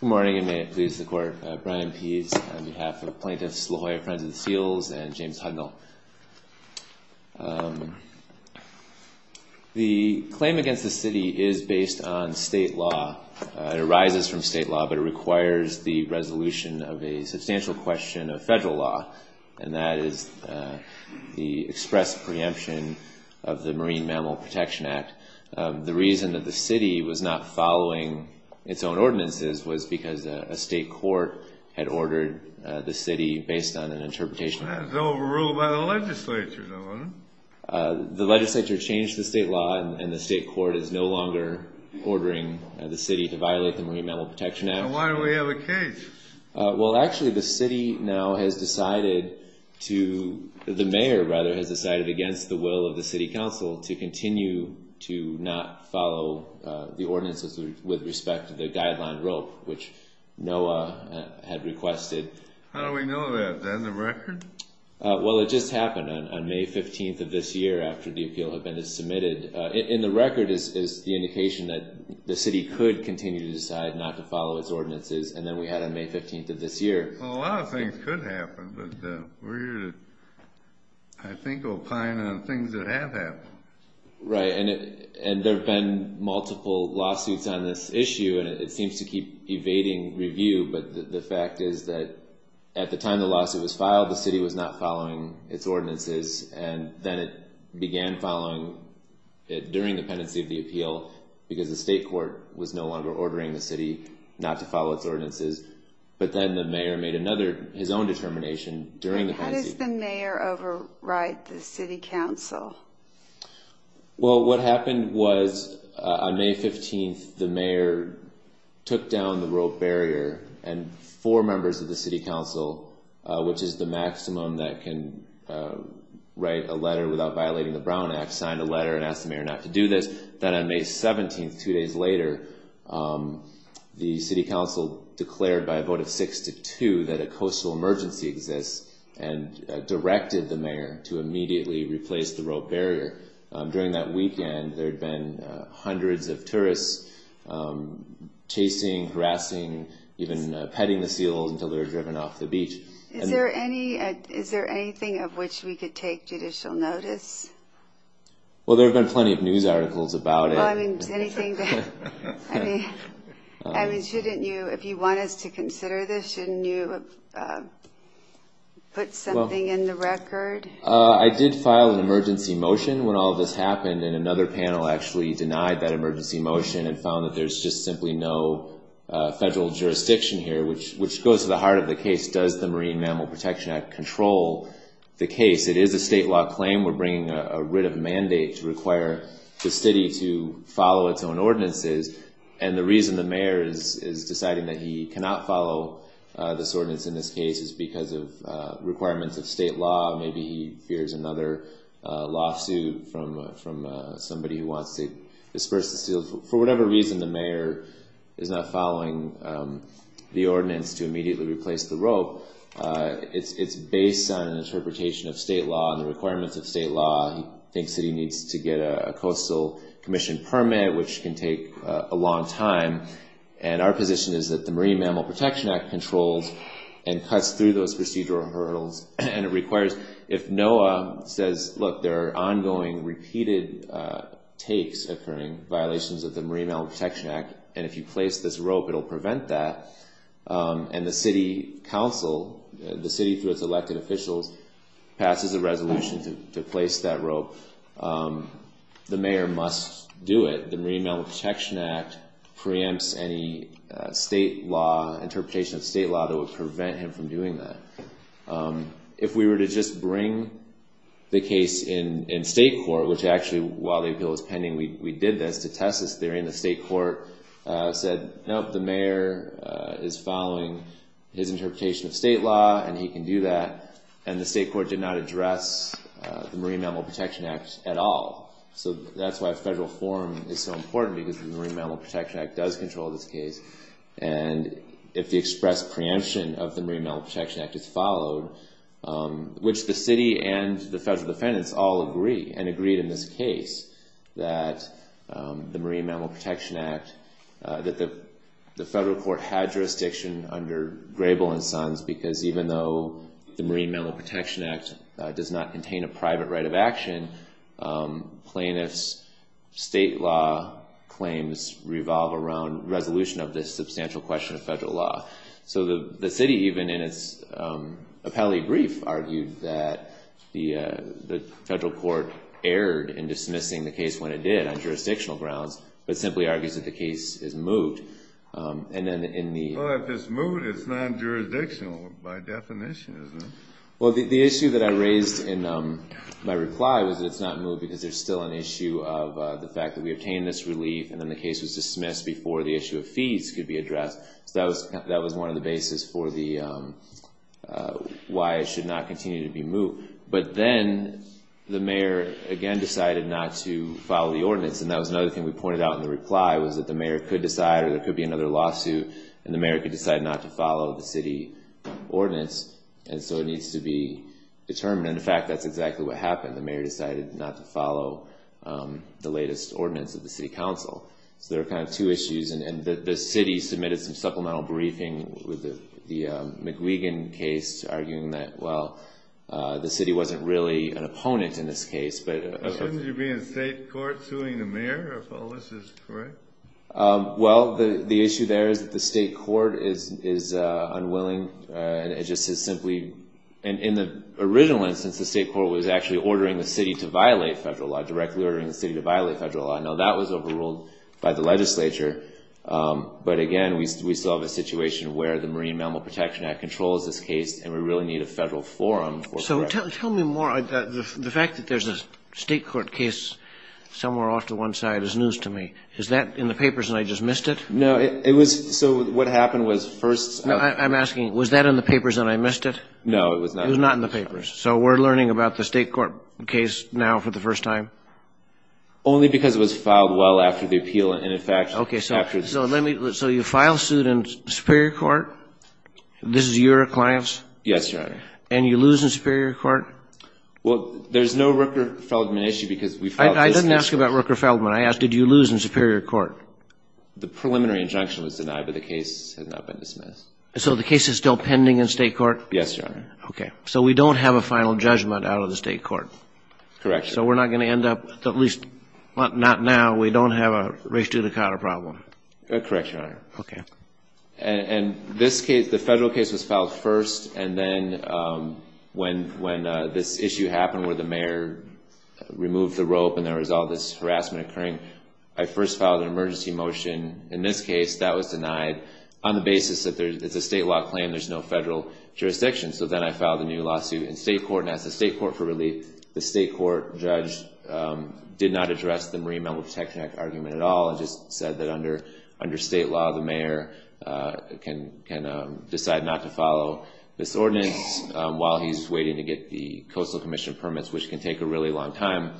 Good morning and may it please the Court. Brian Pease on behalf of Plaintiffs La Jolla Friends of the Seals and James Hudnall. The claim against the city is based on state law. It arises from state law, but it requires the resolution of a substantial question of federal law, and that is the express preemption of the Marine Mammal Protection Act. The reason that the city was not following its own ordinances was because a state court had ordered the city based on an interpretation. That's overruled by the legislature, though, isn't it? The legislature changed the state law, and the state court is no longer ordering the city to violate the Marine Mammal Protection Act. Then why do we have a case? Well, actually, the city now has decided to, the mayor, rather, has decided against the will of the city council to continue to not follow the ordinances with respect to the guideline rope, which NOAA had requested. How do we know that? Is that in the record? Well, it just happened on May 15th of this year after the appeal had been submitted. In the record is the indication that the city could continue to decide not to follow its ordinances, and then we had on May 15th of this year. Well, a lot of things could happen, but we're here to, I think, opine on things that have happened. Right, and there have been multiple lawsuits on this issue, and it seems to keep evading review, but the fact is that at the time the lawsuit was filed, the city was not following its ordinances, and then it began following it during the pendency of the appeal because the state court was no longer ordering the city not to follow its ordinances. But then the mayor made another, his own determination during the pendency. How does the mayor override the city council? Well, what happened was on May 15th the mayor took down the rope barrier and four members of the city council, which is the maximum that can write a letter without violating the Brown Act, signed a letter and asked the mayor not to do this. Then on May 17th, two days later, the city council declared by a vote of six to two that a coastal emergency exists and directed the mayor to immediately replace the rope barrier. During that weekend there had been hundreds of tourists chasing, harassing, even petting the seals until they were driven off the beach. Is there anything of which we could take judicial notice? Well, there have been plenty of news articles about it. I mean, shouldn't you, if you want us to consider this, shouldn't you put something in the record? I did file an emergency motion when all of this happened, and another panel actually denied that emergency motion and found that there's just simply no federal jurisdiction here, which goes to the heart of the case, does the Marine Mammal Protection Act control the case? It is a state law claim. We're bringing a writ of mandate to require the city to follow its own ordinances. And the reason the mayor is deciding that he cannot follow this ordinance in this case is because of requirements of state law. Maybe he fears another lawsuit from somebody who wants to disperse the seals. For whatever reason, the mayor is not following the ordinance to immediately replace the rope. It's based on an interpretation of state law and the requirements of state law. He thinks that he needs to get a coastal commission permit, which can take a long time. And our position is that the Marine Mammal Protection Act controls and cuts through those procedural hurdles. And it requires, if NOAA says, look, there are ongoing, repeated takes occurring, violations of the Marine Mammal Protection Act, and if you place this rope, it'll prevent that. And the city council, the city through its elected officials, passes a resolution to place that rope. The mayor must do it. The Marine Mammal Protection Act preempts any state law, interpretation of state law that would prevent him from doing that. If we were to just bring the case in state court, which actually, while the appeal was pending, we did this to test this theory, and the state court said, nope, the mayor is following his interpretation of state law, and he can do that. And the state court did not address the Marine Mammal Protection Act at all. So that's why federal forum is so important, because the Marine Mammal Protection Act does control this case. And if the expressed preemption of the Marine Mammal Protection Act is followed, which the city and the federal defendants all agree, and agreed in this case that the Marine Mammal Protection Act, that the federal court had jurisdiction under Grable and Sons, because even though the Marine Mammal Protection Act does not contain a private right of action, plaintiffs' state law claims revolve around resolution of this substantial question of federal law. So the city, even in its appellate brief, argued that the federal court erred in dismissing the case when it did on jurisdictional grounds, but simply argues that the case is moot. And then in the... Well, if it's moot, it's non-jurisdictional by definition, isn't it? Well, the issue that I raised in my reply was that it's not moot because there's still an issue of the fact that we obtained this relief, and then the case was dismissed before the issue of fees could be addressed. So that was one of the bases for why it should not continue to be moot. But then the mayor, again, decided not to follow the ordinance, and that was another thing we pointed out in the reply, was that the mayor could decide, or there could be another lawsuit, and the mayor could decide not to follow the city ordinance, and so it needs to be determined. In fact, that's exactly what happened. The mayor decided not to follow the latest ordinance of the city council. So there are kind of two issues, and the city submitted some supplemental briefing with the McGuigan case, arguing that, well, the city wasn't really an opponent in this case, but... Shouldn't you be in state court suing the mayor if all this is correct? Well, the issue there is that the state court is unwilling. It just is simply... In the original instance, the state court was actually ordering the city to violate federal law, directly ordering the city to violate federal law. Now, that was overruled by the legislature, but again, we still have a situation where the Marine Mammal Protection Act controls this case, and we really need a federal forum for correction. So tell me more. The fact that there's a state court case somewhere off to one side is news to me. Is that in the papers, and I just missed it? No, it was... So what happened was first... I'm asking, was that in the papers, and I missed it? No, it was not. It was not in the papers. So we're learning about the state court case now for the first time? Only because it was filed well after the appeal, and in fact... Okay. So let me... So you file suit in superior court? This is your clients? Yes, Your Honor. And you lose in superior court? Well, there's no Rooker-Feldman issue because we filed this case... I didn't ask about Rooker-Feldman. I asked, did you lose in superior court? The preliminary injunction was denied, but the case has not been dismissed. So the case is still pending in state court? Okay. So we don't have a final judgment out of the state court? Correct, Your Honor. So we're not going to end up, at least not now, we don't have a race to the counter problem? Correct, Your Honor. Okay. And this case, the federal case was filed first, and then when this issue happened where the mayor removed the rope and there was all this harassment occurring, I first filed an emergency motion. In this case, that was denied on the basis that it's a statewide claim, there's no federal jurisdiction. So then I filed a new lawsuit in state court and asked the state court for relief. The state court judge did not address the Marine Mammal Protection Act argument at all. It just said that under state law, the mayor can decide not to follow this ordinance while he's waiting to get the Coastal Commission permits, which can take a really long time.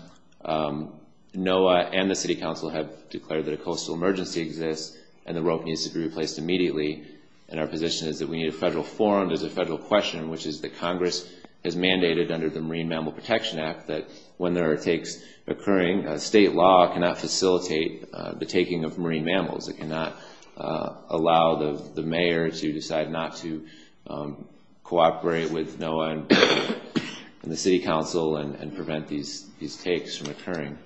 NOAA and the city council have declared that a coastal emergency exists and the rope needs to be replaced immediately. And our position is that we need a federal forum. which is that Congress has mandated under the Marine Mammal Protection Act that when there are takes occurring, state law cannot facilitate the taking of marine mammals. It cannot allow the mayor to decide not to cooperate with NOAA and the city council and prevent these takes from occurring.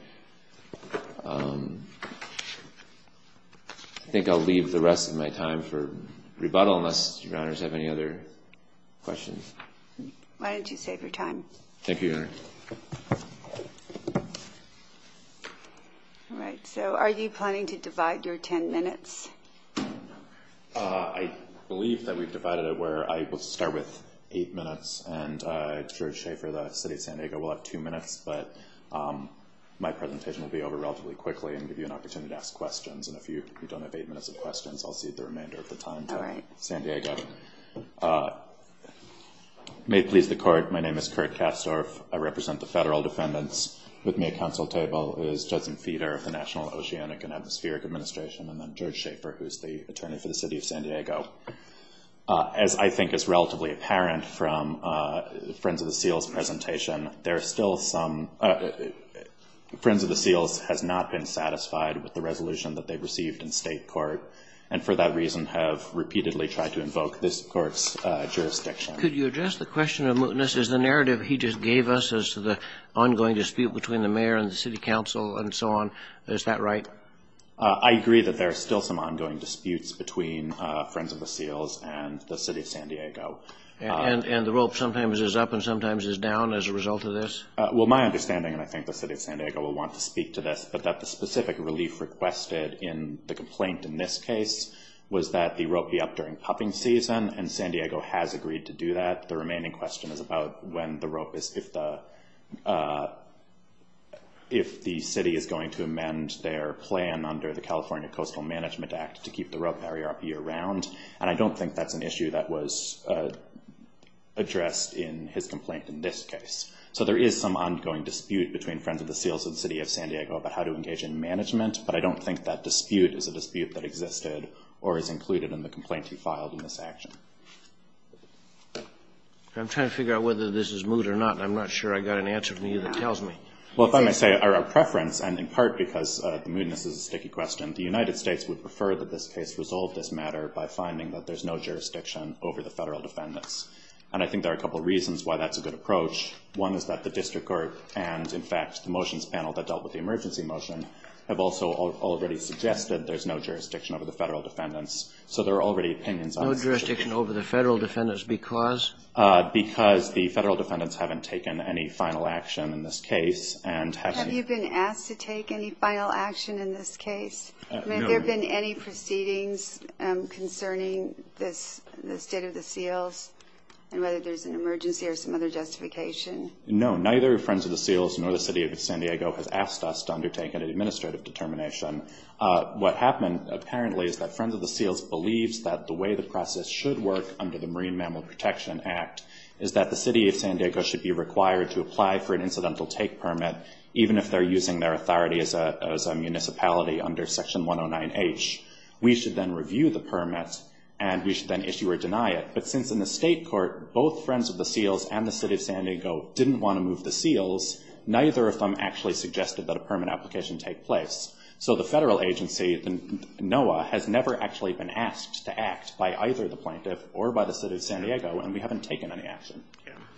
I think I'll leave the rest of my time for rebuttal unless your honors have any other questions. Why don't you save your time. Thank you, your honor. So are you planning to divide your ten minutes? I believe that we've divided it where I will start with eight minutes and George Schaefer of the city of San Diego will have two minutes, but my presentation will be over relatively quickly and give you an opportunity to ask questions. And if you don't have eight minutes of questions, I'll cede the remainder of the time to San Diego. May it please the court, my name is Kurt Kastorf. I represent the federal defendants. With me at council table is Judson Feeder of the National Oceanic and Atmospheric Administration and then George Schaefer, who is the attorney for the city of San Diego. As I think is relatively apparent from Friends of the Seals presentation, there are still some Friends of the Seals has not been satisfied with the resolution that they've received in state court and for that reason have repeatedly tried to invoke this court's jurisdiction. Could you address the question of mootness? Is the narrative he just gave us as to the ongoing dispute between the mayor and the city council and so on, is that right? I agree that there are still some ongoing disputes between Friends of the Seals and the city of San Diego. And the rope sometimes is up and sometimes is down as a result of this? Well, my understanding, and I think the city of San Diego will want to speak to this, but that the specific relief requested in the complaint in this case was that the rope be up during pupping season and San Diego has agreed to do that. The remaining question is about when the rope is, if the city is going to amend their plan under the California Coastal Management Act to keep the rope barrier up year-round, and I don't think that's an issue that was addressed in his complaint in this case. So there is some ongoing dispute between Friends of the Seals and the city of San Diego about how to engage in management, but I don't think that dispute is a dispute that existed or is included in the complaint he filed in this action. I'm trying to figure out whether this is moot or not, and I'm not sure I've got an answer from you that tells me. Well, if I may say, our preference, and in part because the mootness is a sticky question, the United States would prefer that this case resolve this matter by finding that there's no jurisdiction over the Federal defendants, and I think there are a couple of reasons why that's a good approach. One is that the district court and, in fact, the motions panel that dealt with the emergency motion have also already suggested there's no jurisdiction over the Federal defendants, so there are already opinions on this issue. No jurisdiction over the Federal defendants because? Because the Federal defendants haven't taken any final action in this case and haven't. Have you been asked to take any final action in this case? No. I mean, have there been any proceedings concerning the State of the Seals and whether there's an emergency or some other justification? No. Neither Friends of the Seals nor the city of San Diego has asked us to undertake an administrative determination. What happened apparently is that Friends of the Seals believes that the way the process should work under the Marine Mammal Protection Act is that the city of San Diego should be required to apply for an incidental take permit even if they're using their authority as a municipality under Section 109H. We should then review the permit, and we should then issue or deny it. But since in the State court both Friends of the Seals and the city of San Diego didn't want to move the seals, neither of them actually suggested that a permit application take place. So the Federal agency, NOAA, has never actually been asked to act by either the plaintiff or by the city of San Diego, and we haven't taken any action.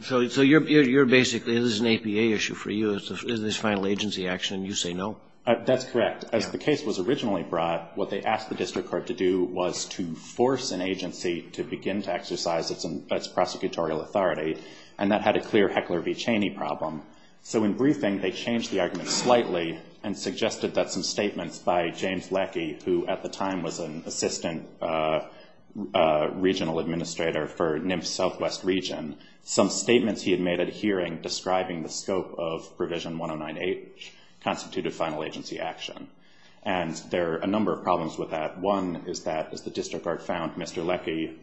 So you're basically, this is an APA issue for you, this is final agency action, and you say no? That's correct. As the case was originally brought, what they asked the district court to do was to force an agency to begin to exercise its prosecutorial authority, and that had a clear Heckler v. Cheney problem. So in briefing, they changed the argument slightly and suggested that some statements by James Leckie, who at the time was an assistant regional administrator for NIMS Southwest Region, some statements he had made at a hearing describing the scope of Provision 109H constituted final agency action. And there are a number of problems with that. One is that, as the district court found, Mr. Leckie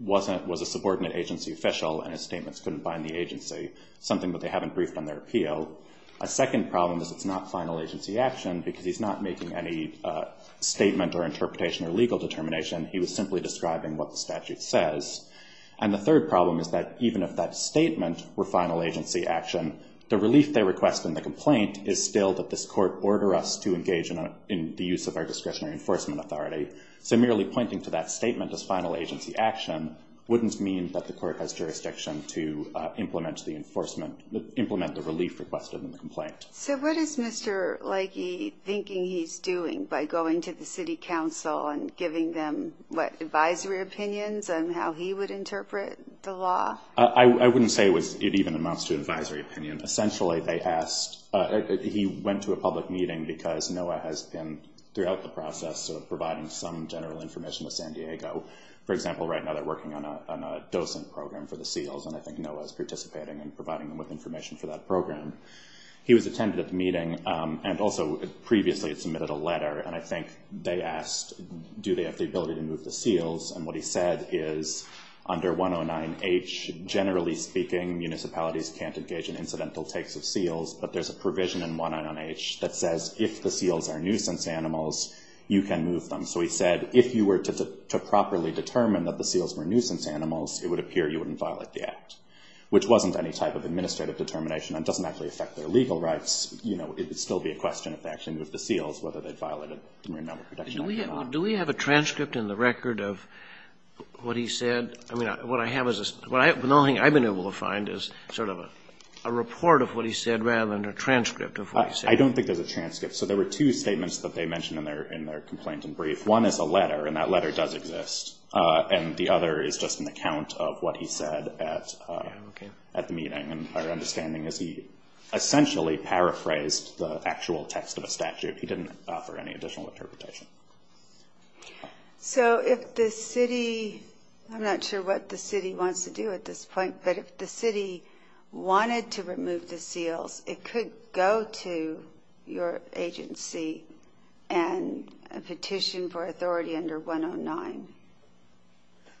was a subordinate agency official, and his statements couldn't bind the agency, something that they haven't briefed on their appeal. A second problem is it's not final agency action because he's not making any statement or interpretation or legal determination. He was simply describing what the statute says. And the third problem is that even if that statement were final agency action, the relief they request in the complaint is still that this court order us to engage in the use of our discretionary enforcement authority. So merely pointing to that statement as final agency action wouldn't mean that the court has jurisdiction to implement the enforcement, implement the relief requested in the complaint. So what is Mr. Leckie thinking he's doing by going to the city council and giving them, what, advisory opinions on how he would interpret the law? I wouldn't say it even amounts to advisory opinion. Essentially, they asked – he went to a public meeting because NOAA has been, throughout the process, sort of providing some general information with San Diego. For example, right now they're working on a docent program for the seals, and I think NOAA is participating in providing them with information for that program. He was attended at the meeting, and also previously had submitted a letter, and I think they asked do they have the ability to move the seals. And what he said is under 109H, generally speaking, municipalities can't engage in incidental takes of seals, but there's a provision in 109H that says if the seals are nuisance animals, you can move them. So he said if you were to properly determine that the seals were nuisance animals, it would appear you wouldn't violate the act, which wasn't any type of administrative determination and doesn't actually affect their legal rights. You know, it would still be a question of action with the seals, whether they violated the Marine Mammal Protection Act or not. Do we have a transcript in the record of what he said? I mean, what I have is – the only thing I've been able to find is sort of a report of what he said rather than a transcript of what he said. I don't think there's a transcript. So there were two statements that they mentioned in their complaint in brief. One is a letter, and that letter does exist. And the other is just an account of what he said at the meeting. And our understanding is he essentially paraphrased the actual text of a statute. He didn't offer any additional interpretation. So if the city – I'm not sure what the city wants to do at this point, but if the city wanted to remove the seals, it could go to your agency and petition for authority under 109.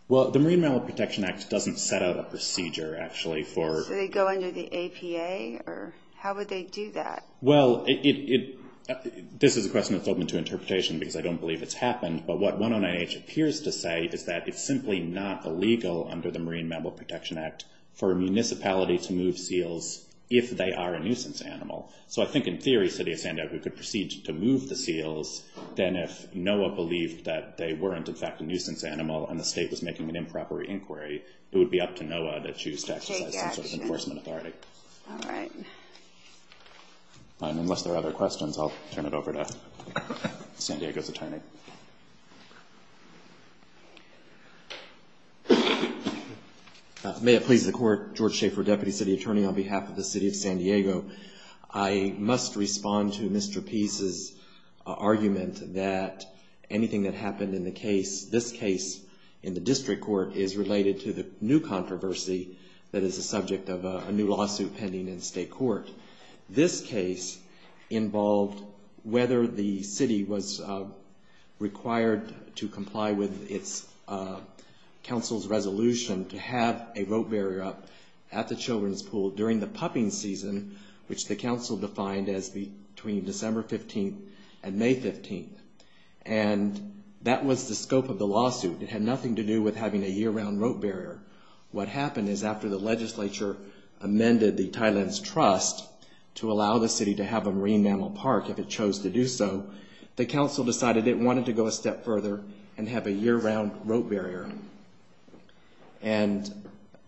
Well, the Marine Mammal Protection Act doesn't set out a procedure, actually. So they go under the APA? Or how would they do that? Well, this is a question that's open to interpretation because I don't believe it's happened. But what 109H appears to say is that it's simply not illegal under the Marine Mammal Protection Act for a municipality to move seals if they are a nuisance animal. So I think in theory, City of San Diego could proceed to move the seals. Then if NOAA believed that they weren't, in fact, a nuisance animal and the state was making an improper inquiry, it would be up to NOAA to choose to exercise some sort of enforcement authority. All right. Unless there are other questions, I'll turn it over to San Diego's attorney. May it please the Court. George Schaeffer, Deputy City Attorney on behalf of the City of San Diego. I must respond to Mr. Pease's argument that anything that happened in the case, this case in the district court, is related to the new controversy that is the subject of a new lawsuit pending in state court. This case involved whether the city was required to comply with its council's resolution to have a rope barrier up at the children's pool during the pupping season, which the council defined as between December 15th and May 15th. And that was the scope of the lawsuit. It had nothing to do with having a year-round rope barrier. What happened is after the legislature amended the Thailand's trust to allow the city to have a marine mammal park if it chose to do so, the council decided it wanted to go a step further and have a year-round rope barrier. And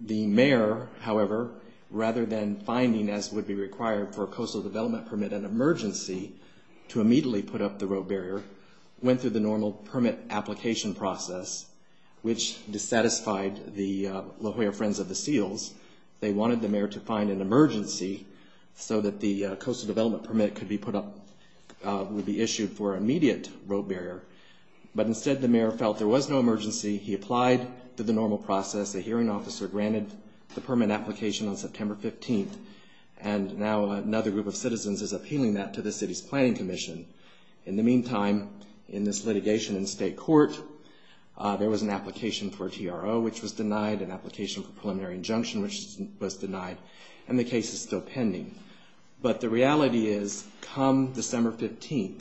the mayor, however, rather than finding, as would be required for a coastal development permit, an emergency to immediately put up the rope barrier, went through the normal permit application process, which dissatisfied the La Jolla Friends of the Seals. They wanted the mayor to find an emergency so that the coastal development permit could be put up, would be issued for immediate rope barrier. But instead the mayor felt there was no emergency. He applied to the normal process. A hearing officer granted the permit application on September 15th. And now another group of citizens is appealing that to the city's planning commission. In the meantime, in this litigation in state court, there was an application for a TRO, which was denied, an application for preliminary injunction, which was denied, and the case is still pending. But the reality is come December 15th,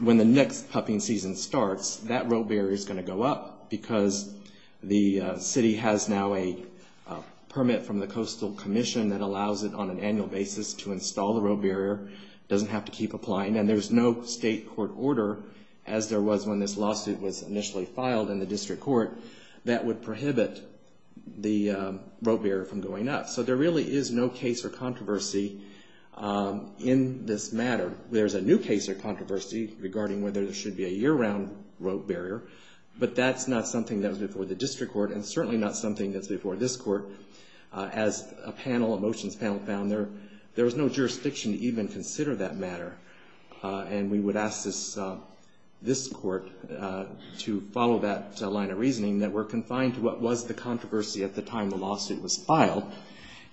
when the next pupping season starts, that rope barrier is going to go up because the city has now a permit from the coastal commission that allows it on an annual basis to install the rope barrier. It doesn't have to keep applying. And there's no state court order, as there was when this lawsuit was initially filed in the district court, that would prohibit the rope barrier from going up. So there really is no case or controversy in this matter. There's a new case of controversy regarding whether there should be a year-round rope barrier, but that's not something that was before the district court and certainly not something that's before this court. As a panel, a motions panel found, there was no jurisdiction to even consider that matter. And we would ask this court to follow that line of reasoning, that we're confined to what was the controversy at the time the lawsuit was filed,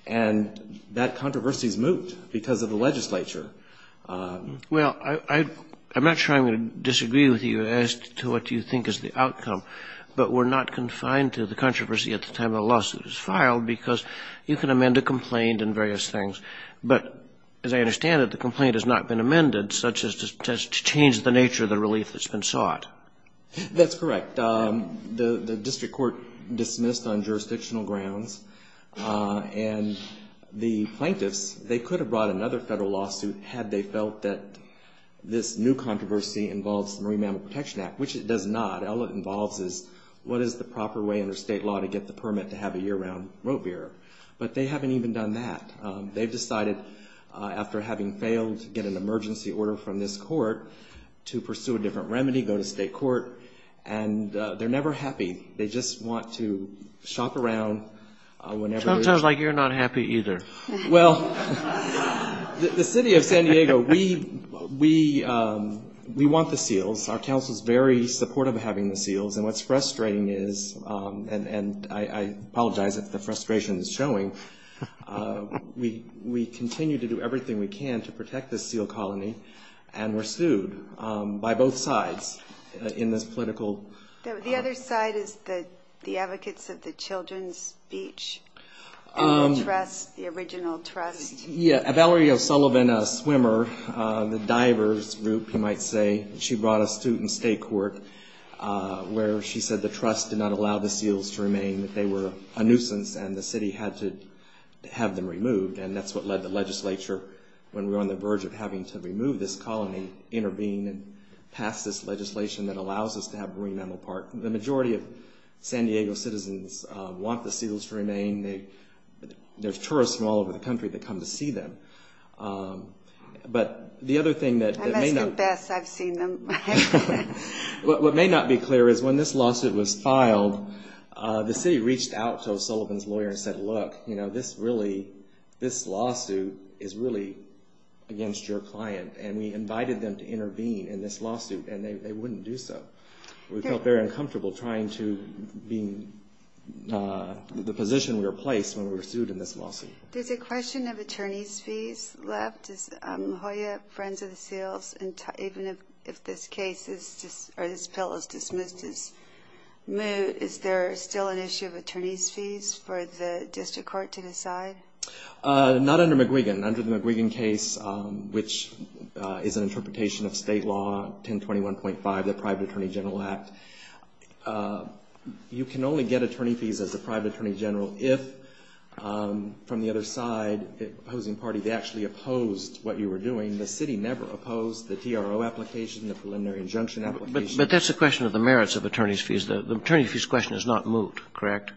and that controversy is moot because of the legislature. Well, I'm not sure I'm going to disagree with you as to what you think is the outcome, but we're not confined to the controversy at the time the lawsuit was filed because you can amend a complaint and various things. But as I understand it, the complaint has not been amended, such as to change the nature of the relief that's been sought. That's correct. The district court dismissed on jurisdictional grounds, and the plaintiffs, they could have brought another federal lawsuit had they felt that this new controversy involves the Marine Mammal Protection Act, which it does not. All it involves is what is the proper way under state law to get the permit to have a year-round rote bearer. But they haven't even done that. They've decided, after having failed to get an emergency order from this court, to pursue a different remedy, go to state court. And they're never happy. They just want to shop around whenever they're able. Sounds like you're not happy either. Well, the city of San Diego, we want the seals. Our council is very supportive of having the seals. And what's frustrating is, and I apologize if the frustration is showing, we continue to do everything we can to protect this seal colony, and we're sued by both sides in this political. The other side is the advocates of the children's beach, the original trust. Yeah, Valerie O'Sullivan, a swimmer, the divers group, you might say, she brought us to state court where she said the trust did not allow the seals to remain, that they were a nuisance and the city had to have them removed. And that's what led the legislature, when we were on the verge of having to remove this colony, intervene and pass this legislation that allows us to have Marine Mammal Park. The majority of San Diego citizens want the seals to remain. There's tourists from all over the country that come to see them. I must confess, I've seen them. What may not be clear is, when this lawsuit was filed, the city reached out to O'Sullivan's lawyer and said, look, this lawsuit is really against your client, and we invited them to intervene in this lawsuit, and they wouldn't do so. We felt very uncomfortable trying to be in the position we were placed when we were sued in this lawsuit. There's a question of attorney's fees left. Is Hoya, Friends of the Seals, even if this case is, or this bill is dismissed as moot, is there still an issue of attorney's fees for the district court to decide? Not under McGuigan. Under the McGuigan case, which is an interpretation of state law, 1021.5, the Private Attorney General Act, you can only get attorney fees as a private attorney general if, from the other side, the opposing parties actually opposed what you were doing. The city never opposed the TRO application, the preliminary injunction application. But that's a question of the merits of attorney's fees. The attorney's fees question is not moot, correct?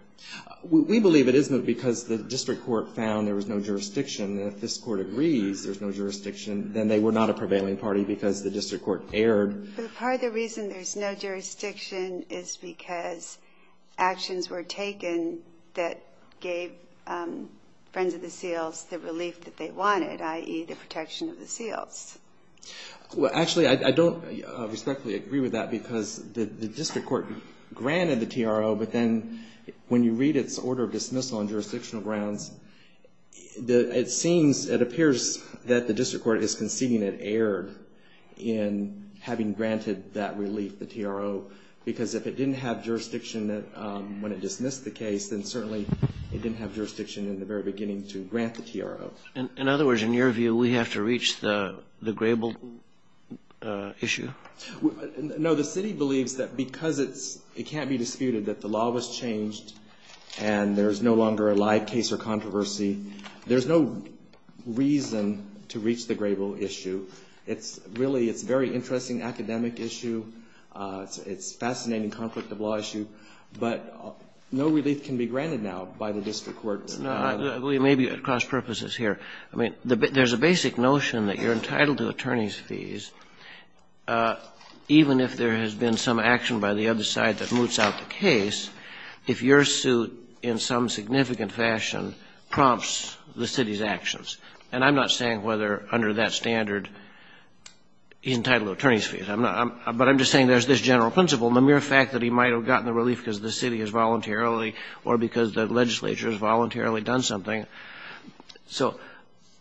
We believe it is moot because the district court found there was no jurisdiction, and if this Court agrees there's no jurisdiction, then they were not a prevailing party because the district court erred. But part of the reason there's no jurisdiction is because actions were taken that gave Friends of the Seals the relief that they wanted, i.e., the protection of the seals. Well, actually, I don't respectfully agree with that because the district court granted the TRO, but then when you read its order of dismissal on jurisdictional grounds, it seems, it appears that the district court is conceding it erred in having granted that relief, the TRO, because if it didn't have jurisdiction when it dismissed the case, then certainly it didn't have jurisdiction in the very beginning to grant the TRO. In other words, in your view, we have to reach the Grable issue? No. The city believes that because it can't be disputed that the law was changed and there's no longer a live case or controversy. There's no reason to reach the Grable issue. It's really, it's a very interesting academic issue. It's a fascinating conflict of law issue. But no relief can be granted now by the district court. We may be at cross purposes here. I mean, there's a basic notion that you're entitled to attorney's fees even if there has been some action by the other side that moots out the case. If your suit in some significant fashion prompts the city's actions, and I'm not saying whether under that standard he's entitled to attorney's fees. I'm not. But I'm just saying there's this general principle, the mere fact that he might have gotten the relief because the city has voluntarily or because the legislature has voluntarily done something. So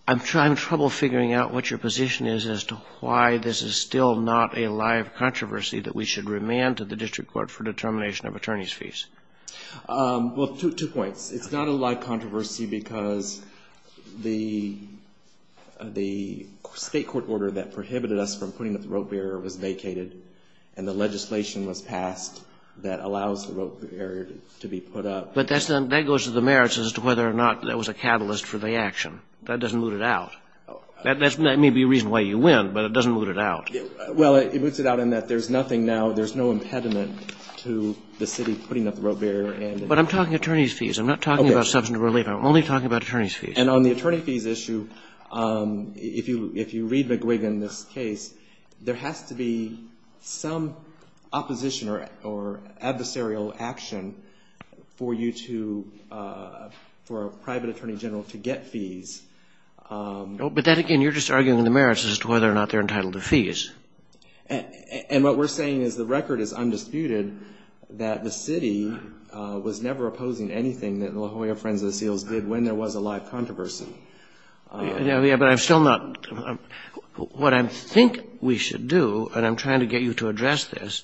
I'm in trouble figuring out what your position is as to why this is still not a live controversy that we should remand to the district court for determination of attorney's fees. Well, two points. It's not a live controversy because the state court order that prohibited us from putting up the rope barrier was vacated and the legislation was passed that allows the rope barrier to be put up. But that goes to the merits as to whether or not that was a catalyst for the action. That doesn't moot it out. That may be a reason why you win, but it doesn't moot it out. Well, it moots it out in that there's nothing now, there's no impediment to the city putting up the rope barrier. But I'm talking attorney's fees. I'm not talking about substantive relief. I'm only talking about attorney's fees. And on the attorney fees issue, if you read McGuigan, this case, there has to be some opposition or adversarial action for you to, for a private attorney general to get fees. But that again, you're just arguing the merits as to whether or not they're entitled to fees. And what we're saying is the record is undisputed that the city was never opposing anything that the La Jolla Friends of the Seals did when there was a live controversy. Yeah, but I'm still not. What I think we should do, and I'm trying to get you to address this,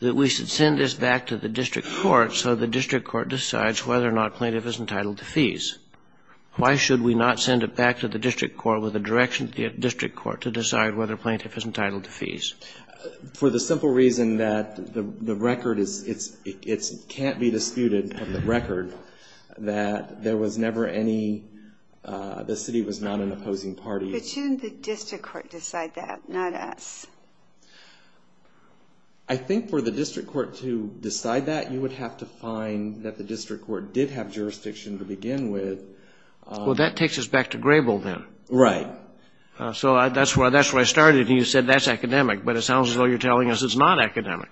that we should send this back to the district court so the district court decides whether or not plaintiff is entitled to fees. Why should we not send it back to the district court with a direction to the district court to decide whether plaintiff is entitled to fees? For the simple reason that the record is, it can't be disputed on the record that there was never any, the city was not an opposing party. But shouldn't the district court decide that, not us? I think for the district court to decide that, you would have to find that the district court did have jurisdiction to begin with. Well, that takes us back to Grable then. Right. So that's where I started, and you said that's academic. But it sounds as though you're telling us it's not academic.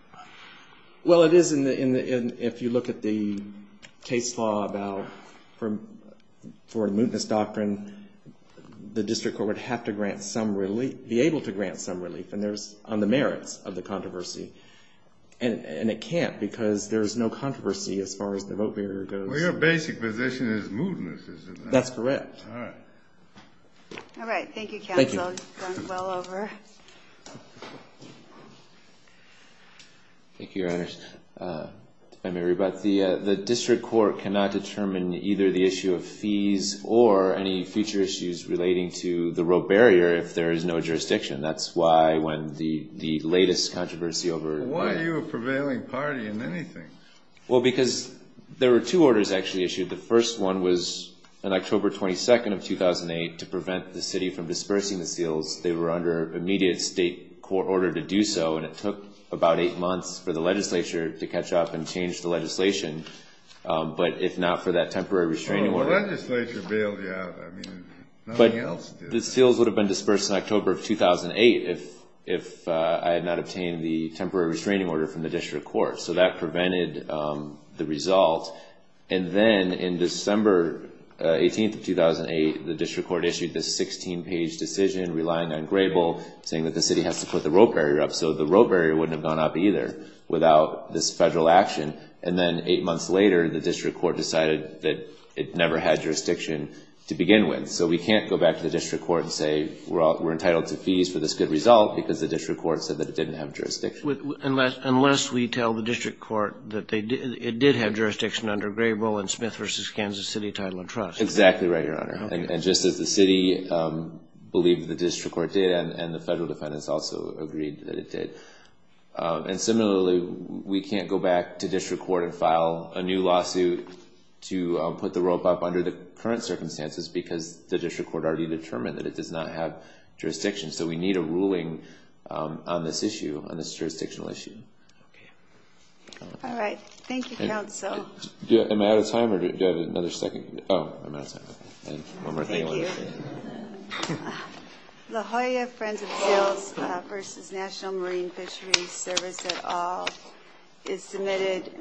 Well, it is in the, if you look at the case law about, for a mootness doctrine, the district court would have to grant some relief, be able to grant some relief, and there's, on the merits of the controversy. And it can't, because there's no controversy as far as the vote barrier goes. Well, your basic position is mootness, isn't it? That's correct. All right. All right. Thank you, counsel. Thank you. You've gone well over. Thank you, Your Honor. The district court cannot determine either the issue of fees or any future issues relating to the vote barrier if there is no jurisdiction. That's why when the latest controversy over Why are you a prevailing party in anything? Well, because there were two orders actually issued. The first one was on October 22nd of 2008 to prevent the city from dispersing the seals. They were under immediate state court order to do so, and it took about eight months for the legislature to catch up and change the legislation, but if not for that temporary restraining order Well, the legislature bailed you out. I mean, nothing else did. The seals would have been dispersed in October of 2008 if I had not obtained the temporary restraining order from the district court. So that prevented the result. And then in December 18th of 2008, the district court issued this 16-page decision relying on Grable saying that the city has to put the vote barrier up, so the vote barrier wouldn't have gone up either without this federal action. And then eight months later, the district court decided that it never had jurisdiction to begin with. And so we can't go back to the district court and say we're entitled to fees for this good result because the district court said that it didn't have jurisdiction. Unless we tell the district court that it did have jurisdiction under Grable and Smith v. Kansas City title of trust. Exactly right, Your Honor. And just as the city believed the district court did and the federal defendants also agreed that it did. And similarly, we can't go back to district court and file a new lawsuit to put the rope up under the current circumstances because the district court already determined that it does not have jurisdiction. So we need a ruling on this issue, on this jurisdictional issue. Okay. All right. Thank you, counsel. Am I out of time or do I have another second? Oh, I'm out of time. One more thing. Thank you. La Jolla Friends of Seals v. National Marine Fisheries Service et al. is submitted.